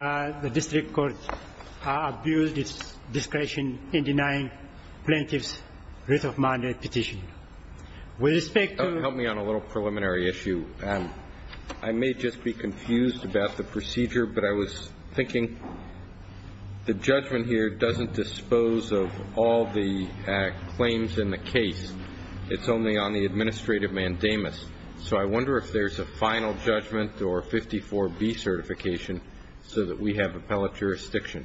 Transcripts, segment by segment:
The district court abused its discretion in denying plaintiff's writ of mandate petition. With respect to... Help me on a little preliminary issue. I may just be confused about the procedure, but I was thinking, the judgment here doesn't dispose of all the claims in the case. It's only on the administrative mandamus. So I wonder if there's a final judgment or 54B certification so that we have appellate jurisdiction.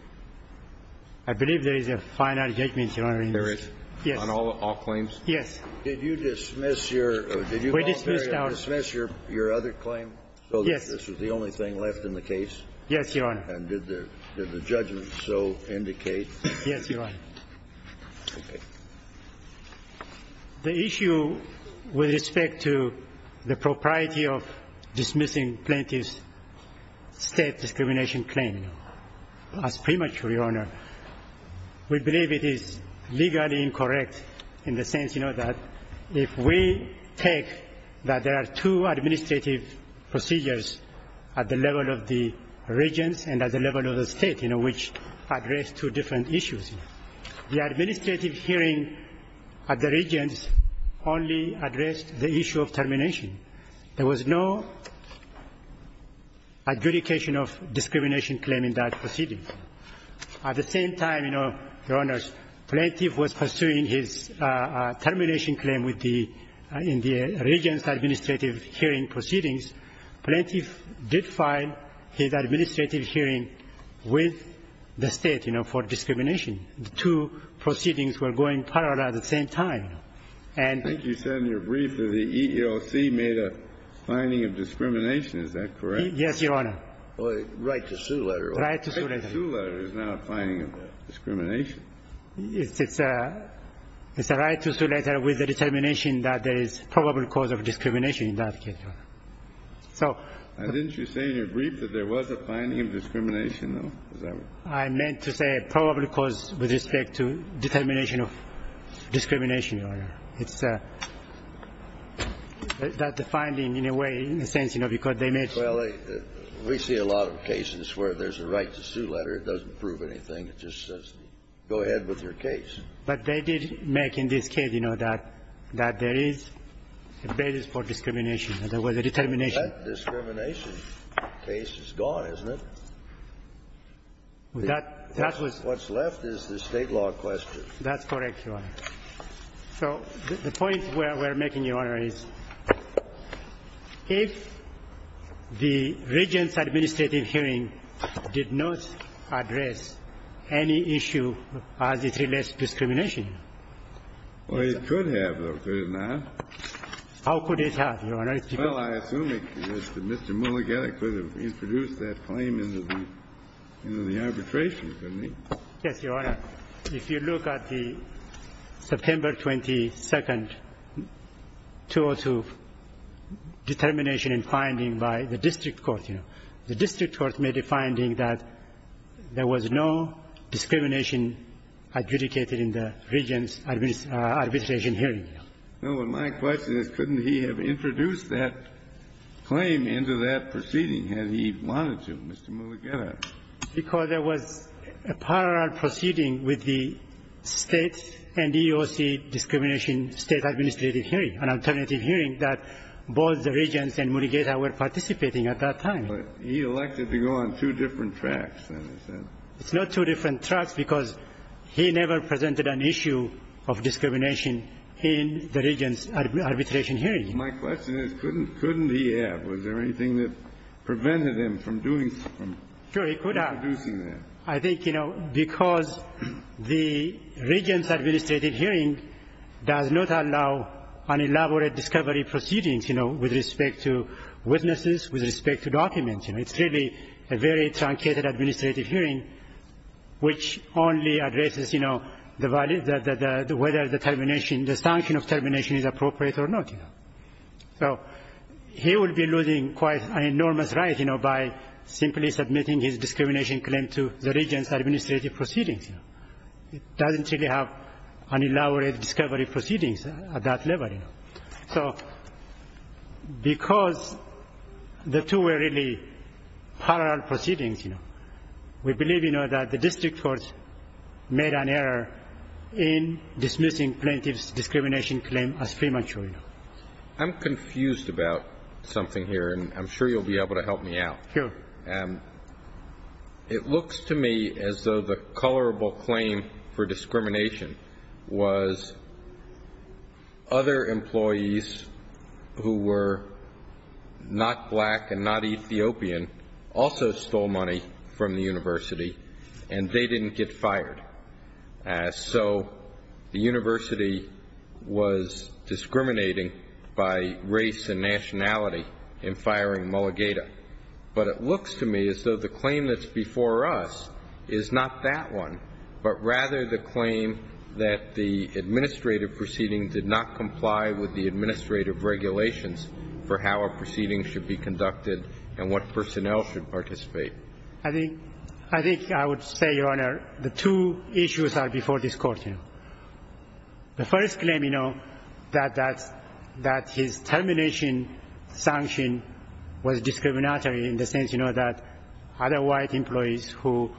I believe there is a final judgment, Your Honor. There is? Yes. On all claims? Yes. Did you dismiss your other claim? Yes. So this was the only thing left in the case? Yes, Your Honor. And did the judgment so indicate? Yes, Your Honor. Okay. The issue with respect to the propriety of dismissing plaintiff's state discrimination claim as premature, Your Honor, we believe it is legally incorrect in the sense, you know, that if we take that there are two administrative procedures at the level of the regents and at the level of the state, you know, which address two different issues, the administrative hearing at the regents only addressed the issue of termination. There was no adjudication of discrimination claim in that proceeding. At the same time, you know, Your Honors, plaintiff was pursuing his termination claim in the regents' administrative hearing proceedings. Plaintiff did file his administrative hearing with the state, you know, for discrimination. The two proceedings were going parallel at the same time. And you said in your brief that the EEOC made a finding of discrimination. Is that correct? Yes, Your Honor. Right-to-sue letter. Right-to-sue letter. Right-to-sue letter is not a finding of discrimination. It's a right-to-sue letter with a determination that there is probable cause of discrimination in that case, Your Honor. So didn't you say in your brief that there was a finding of discrimination, I meant to say probable cause with respect to determination of discrimination, Your Honor. It's that the finding, in a way, in a sense, you know, because they made it. Well, we see a lot of cases where there's a right-to-sue letter. It doesn't prove anything. It just says go ahead with your case. But they did make in this case, you know, that there is a basis for discrimination and there was a determination. That discrimination case is gone, isn't it? That was the case. What's left is the State law question. That's correct, Your Honor. So the point we're making, Your Honor, is if the regent's administrative hearing did not address any issue as it relates to discrimination. Well, it could have, Your Honor. How could it have, Your Honor? Well, I assume that Mr. Mulligett could have introduced that claim in the arbitration, couldn't he? Yes, Your Honor. If you look at the September 22nd 202 determination and finding by the district court, you know, the district court made a finding that there was no discrimination adjudicated in the regent's arbitration hearing. Well, my question is couldn't he have introduced that claim into that proceeding had he wanted to, Mr. Mulligett? Because there was a parallel proceeding with the State and EEOC discrimination State administrative hearing, an alternative hearing that both the regents and Mulligett were participating at that time. But he elected to go on two different tracks, then, is that? It's not two different tracks because he never presented an issue of discrimination. He never presented an issue of discrimination in the regent's arbitration hearing. My question is couldn't he have? Was there anything that prevented him from doing, from introducing that? Sure, he could have. I think, you know, because the regent's administrative hearing does not allow an elaborate discovery proceedings, you know, with respect to witnesses, with respect to documents. You know, it's really a very truncated administrative hearing which only addresses, you know, the value, whether the termination, the sanction of termination is appropriate or not, you know. So he would be losing quite an enormous right, you know, by simply submitting his discrimination claim to the regent's administrative proceedings. It doesn't really have an elaborate discovery proceedings at that level, you know. So because the two were really parallel proceedings, you know, we believe, you know, that the district court made an error in dismissing plaintiff's discrimination claim as premature, you know. I'm confused about something here, and I'm sure you'll be able to help me out. Sure. It looks to me as though the colorable claim for discrimination was other employees who were not black and not Ethiopian also stole money from the university, and they didn't get fired. So the university was discriminating by race and nationality in firing Mulligata. But it looks to me as though the claim that's before us is not that one, but rather the claim that the administrative proceeding did not comply with the administrative regulations for how a proceeding should be conducted and what personnel should participate. I think I would say, Your Honor, the two issues are before this Court, you know. The first claim, you know, that his termination sanction was discriminatory in the sense, you know, that other white employees who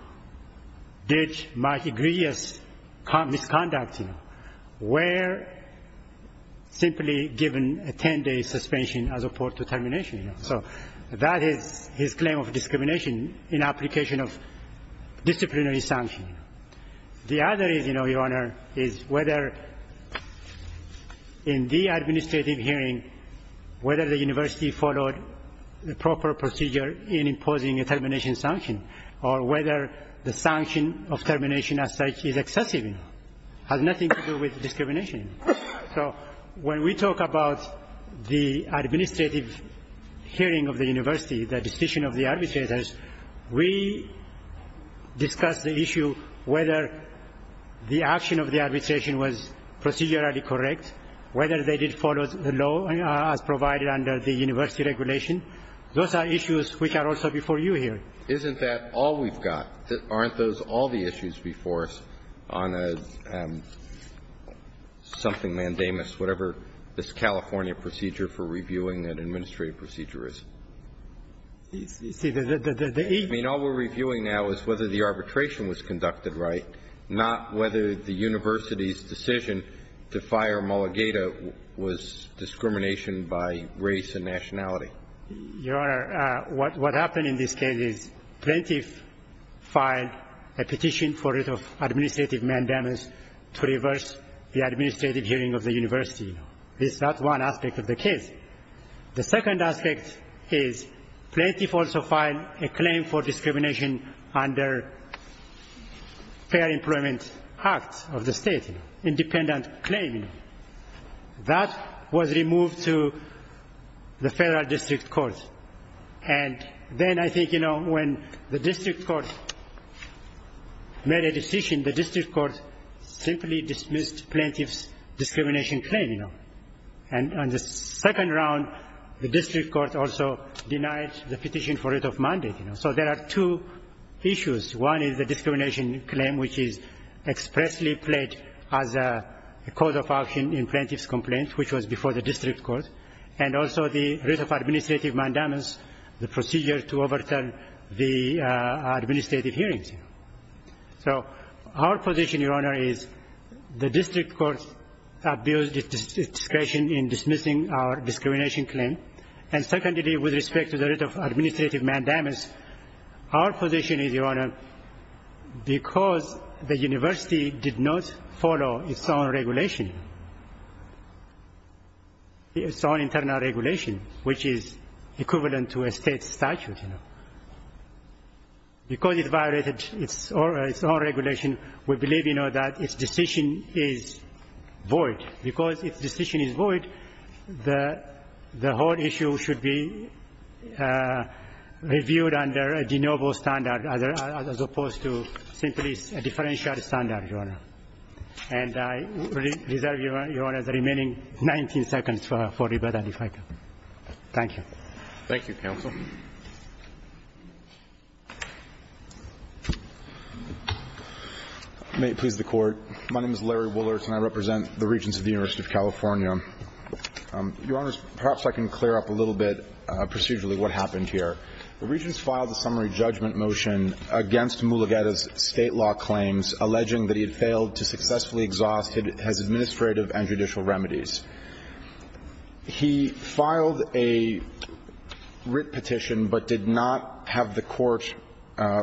did misconduct, you know, were simply given a 10-day suspension as opposed to termination. So that is his claim of discrimination in application of disciplinary sanction. The other is, you know, Your Honor, is whether in the administrative hearing, whether the university followed the proper procedure in imposing a termination sanction or whether the sanction of termination as such is excessive, you know, has nothing to do with discrimination. So when we talk about the administrative hearing of the university, the decision of the arbitrators, we discuss the issue whether the action of the arbitration was procedurally correct, whether they did follow the law as provided under the university regulation. Those are issues which are also before you here. Isn't that all we've got? Aren't those all the issues before us on a something, mandamus, whatever this California procedure for reviewing an administrative procedure is? I mean, all we're reviewing now is whether the arbitration was conducted right, not whether the university's decision to fire Mulligata was discrimination by race and nationality. Your Honor, what happened in this case is plaintiff filed a petition for administrative mandamus to reverse the administrative hearing of the university. That's one aspect of the case. The second aspect is plaintiff also filed a claim for discrimination under Fair Employment Act of the state, independent claim. That was removed to the federal district court. And then I think, you know, when the district court made a decision, the district court simply dismissed plaintiff's discrimination claim, you know. And on the second round, the district court also denied the petition for writ of mandate. So there are two issues. One is the discrimination claim, which is expressly played as a cause of action in plaintiff's complaint, which was before the district court, and also the writ of administrative mandamus, the procedure to overturn the administrative hearings. So our position, Your Honor, is the district court abused its discretion in dismissing our discrimination claim. And secondly, with respect to the writ of administrative mandamus, our position is, Your Honor, because the university did not follow its own regulation, its own internal regulation, which is equivalent to a state statute, you know, because it violated its own regulation, we believe, you know, that its decision is void. Because its decision is void, the whole issue should be reviewed under a de novo standard as opposed to simply a differential standard, Your Honor. And I reserve, Your Honor, the remaining 19 seconds for rebuttal, if I can. Thank you. Thank you, counsel. May it please the Court. My name is Larry Woolertz, and I represent the regents of the University of California. Your Honors, perhaps I can clear up a little bit procedurally what happened here. The regents filed a summary judgment motion against Mulugeta's state law claims alleging that he had failed to successfully exhaust his administrative and judicial remedies. He filed a writ petition but did not have the Court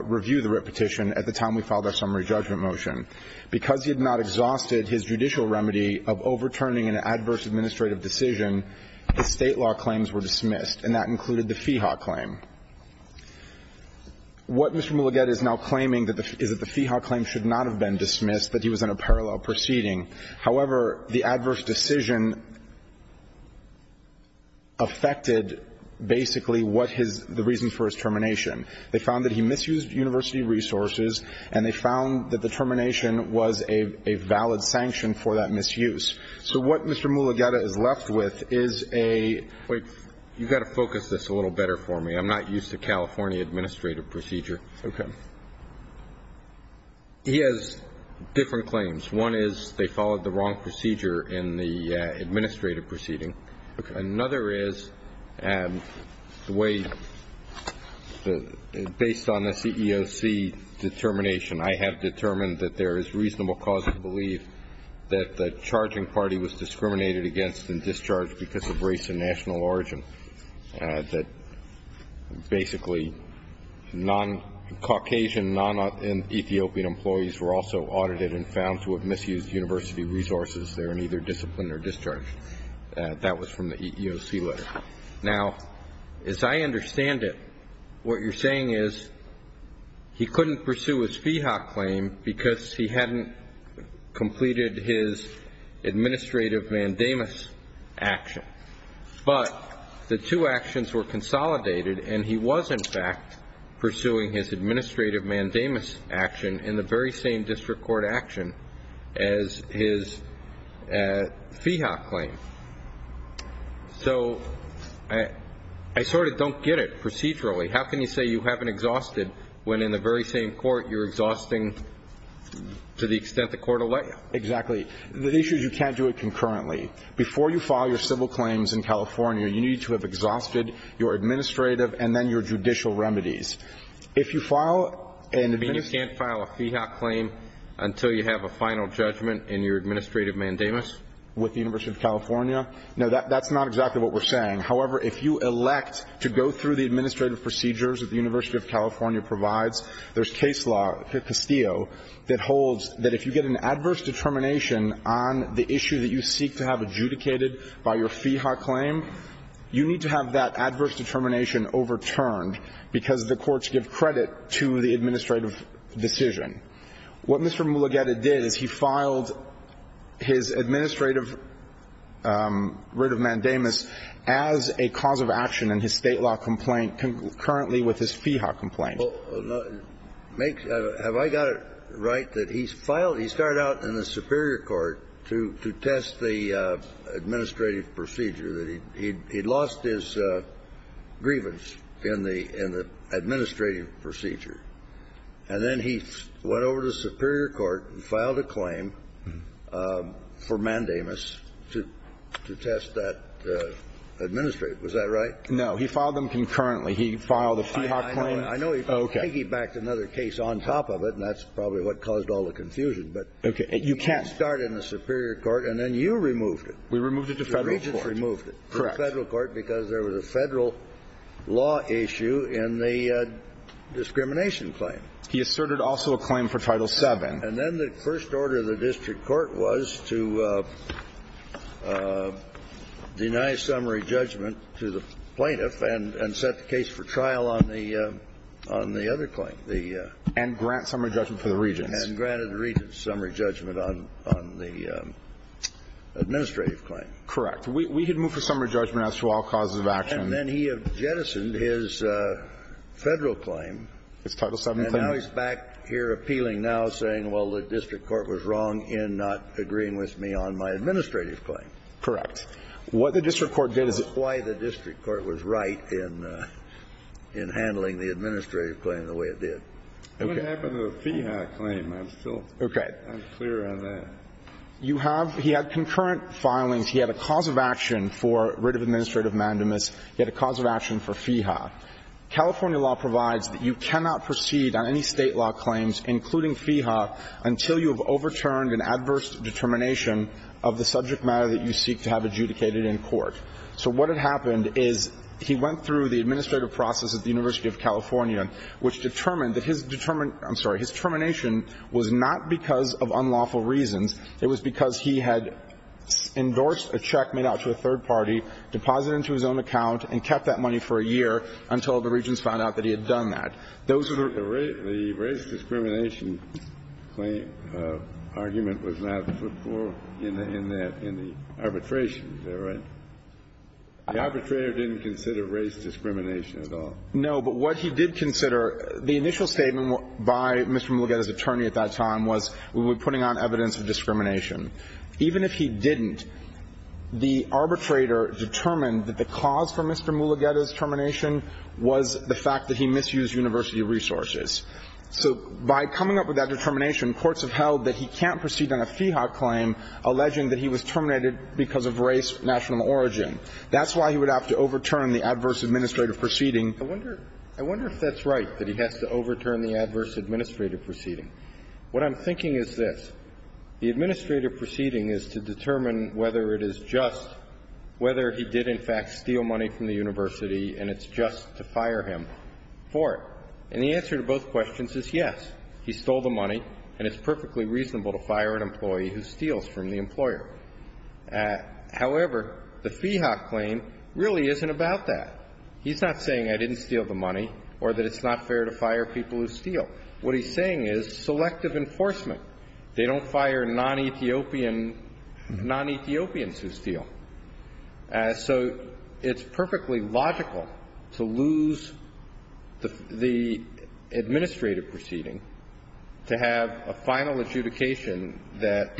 review the writ petition at the time we filed our summary judgment motion. Because he had not exhausted his judicial remedy of overturning an adverse administrative decision, the state law claims were dismissed, and that included the FIHA claim. What Mr. Mulugeta is now claiming is that the FIHA claim should not have been dismissed, that he was in a parallel proceeding. However, the adverse decision affected basically what his – the reason for his termination. They found that he misused university resources, and they found that the termination was a valid sanction for that misuse. So what Mr. Mulugeta is left with is a – Wait. You've got to focus this a little better for me. I'm not used to California administrative procedure. Okay. He has different claims. One is they followed the wrong procedure in the administrative proceeding. Okay. Another is the way – based on the CEOC determination, I have determined that there is reasonable cause to believe that the charging party was discriminated against and discharged because of race and national origin, that basically non-Caucasian, non-Ethiopian employees were also audited and found to have misused university resources there in either discipline or discharge. That was from the EEOC letter. Now, as I understand it, what you're saying is he couldn't pursue his FIHA claim because he hadn't completed his administrative mandamus action. But the two actions were consolidated and he was, in fact, pursuing his administrative mandamus action in the very same district court action as his FIHA claim. So I sort of don't get it procedurally. How can you say you haven't exhausted when, in the very same court, you're exhausting to the extent the court will let you? Exactly. The issue is you can't do it concurrently. Before you file your civil claims in California, you need to have exhausted your administrative and then your judicial remedies. If you file an administrative – You mean you can't file a FIHA claim until you have a final judgment in your administrative mandamus? With the University of California? No, that's not exactly what we're saying. However, if you elect to go through the administrative procedures that the University of California provides, there's case law, Castillo, that holds that if you get an adverse determination on the issue that you seek to have adjudicated by your FIHA claim, you need to have that adverse determination overturned because the courts give credit to the administrative decision. What Mr. Mugeta did is he filed his administrative writ of mandamus as a cause of action in his State law complaint concurrently with his FIHA complaint. Well, make – have I got it right that he's filed – he started out in the superior court to test the administrative procedure, that he'd lost his grievance in the administrative procedure. And then he went over to the superior court and filed a claim for mandamus to test that administrative. Was that right? No. He filed them concurrently. He filed a FIHA claim. I know he piggybacked another case on top of it, and that's probably what caused all the confusion, but he started in the superior court and then you removed it. We removed it to Federal court. The regents removed it to Federal court because there was a Federal law issue in the discrimination claim. He asserted also a claim for Title VII. And then the first order of the district court was to deny summary judgment to the plaintiff and set the case for trial on the other claim. And grant summary judgment for the regents. And granted the regents summary judgment on the administrative claim. Correct. We had moved for summary judgment as to all causes of action. And then he had jettisoned his Federal claim. His Title VII claim. And now he's back here appealing now, saying, well, the district court was wrong in not agreeing with me on my administrative claim. Correct. What the district court did is it. That's why the district court was right in handling the administrative claim the way it did. Okay. What happened to the FEHA claim? I'm still unclear on that. Okay. You have he had concurrent filings. He had a cause of action for writ of administrative mandamus. He had a cause of action for FEHA. California law provides that you cannot proceed on any State law claims, including FEHA, until you have overturned an adverse determination of the subject matter that you seek to have adjudicated in court. So what had happened is he went through the administrative process at the University of California, which determined that his determination was not because of unlawful reasons. It was because he had endorsed a check made out to a third party, deposited it into his own account, and kept that money for a year until the regents found out that he had done that. The race discrimination claim argument was not put forth in the arbitration. Is that right? The arbitrator didn't consider race discrimination at all. No, but what he did consider, the initial statement by Mr. Mulugeta's attorney at that time was we were putting on evidence of discrimination. Even if he didn't, the arbitrator determined that the cause for Mr. Mulugeta's So by coming up with that determination, courts have held that he can't proceed on a FEHA claim alleging that he was terminated because of race, national origin. That's why he would have to overturn the adverse administrative proceeding. I wonder if that's right, that he has to overturn the adverse administrative proceeding. What I'm thinking is this. The administrative proceeding is to determine whether it is just, whether he did in the university, and it's just to fire him for it. And the answer to both questions is yes. He stole the money, and it's perfectly reasonable to fire an employee who steals from the employer. However, the FEHA claim really isn't about that. He's not saying I didn't steal the money or that it's not fair to fire people who steal. What he's saying is selective enforcement. They don't fire non-Ethiopian, non-Ethiopians who steal. So it's perfectly logical to lose the administrative proceeding to have a final adjudication that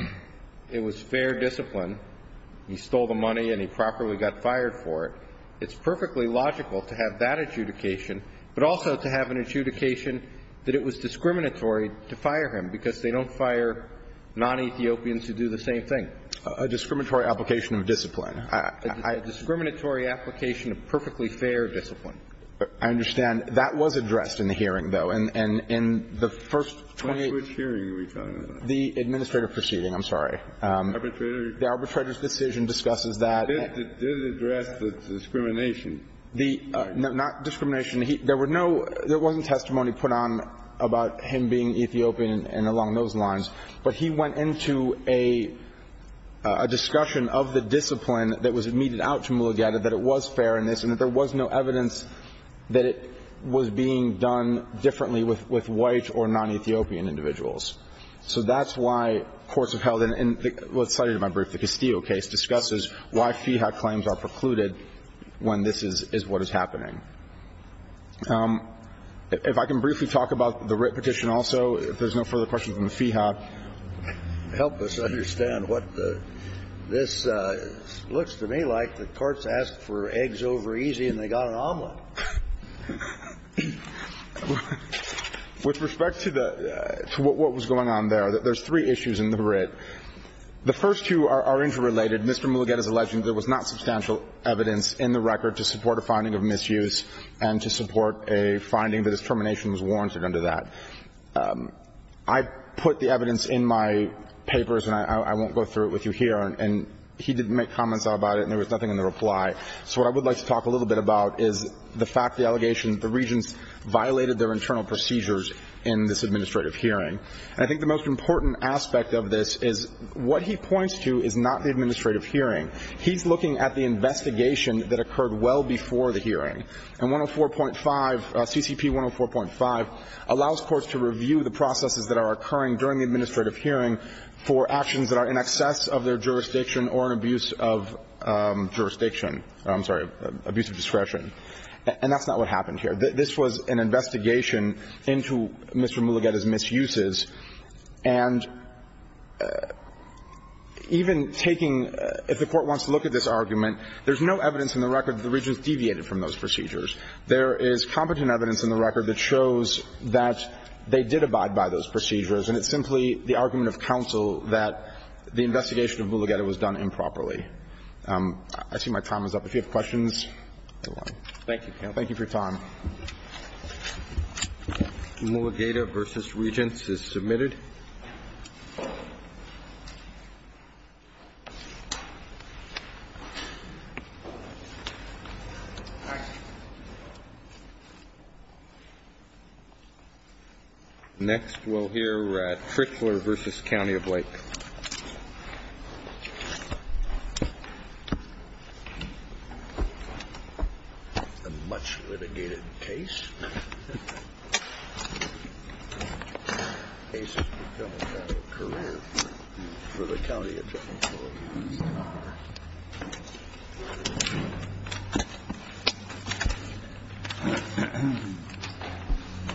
it was fair discipline, he stole the money, and he properly got fired for it. It's perfectly logical to have that adjudication, but also to have an adjudication that it was discriminatory to fire him because they don't fire non-Ethiopians who do the same thing. A discriminatory application of discipline. A discriminatory application of perfectly fair discipline. I understand. That was addressed in the hearing, though. And in the first 28 of the administrative proceeding, I'm sorry, the arbitrator's decision discusses that. It did address the discrimination. Not discrimination. There were no – there wasn't testimony put on about him being Ethiopian and along those lines, but he went into a discussion of the discipline that was meted out to Mulugeta that it was fair in this and that there was no evidence that it was being done differently with white or non-Ethiopian individuals. So that's why courts have held in what's cited in my brief, the Castillo case, discusses why FIHA claims are precluded when this is what is happening. If I can briefly talk about the writ petition also, if there's no further questions on the FIHA. Help us understand what this looks to me like. The courts asked for eggs over easy and they got an omelet. With respect to the – to what was going on there, there's three issues in the writ. The first two are interrelated. Mr. Mulugeta's alleging there was not substantial evidence in the record to support a finding of misuse and to support a finding that his termination was warranted under that. I put the evidence in my papers and I won't go through it with you here and he didn't make comments about it and there was nothing in the reply. So what I would like to talk a little bit about is the fact, the allegations, the regents violated their internal procedures in this administrative hearing. And I think the most important aspect of this is what he points to is not the administrative hearing. He's looking at the investigation that occurred well before the hearing. And 104.5, CCP 104.5 allows courts to review the processes that are occurring during the administrative hearing for actions that are in excess of their jurisdiction or an abuse of jurisdiction, I'm sorry, abuse of discretion. And that's not what happened here. This was an investigation into Mr. Mulugeta's misuses. And even taking, if the Court wants to look at this argument, there's no evidence in the record that the regents deviated from those procedures. There is competent evidence in the record that shows that they did abide by those procedures and it's simply the argument of counsel that the investigation of Mulugeta was done improperly. I see my time is up. If you have questions, go on. Thank you. Thank you for your time. Mulugeta v. Regents is submitted. Next, we'll hear Trickler v. County of Lake. A much litigated case. A case that's becoming kind of a career for the County Attorney's Office. Thank you. Thank you.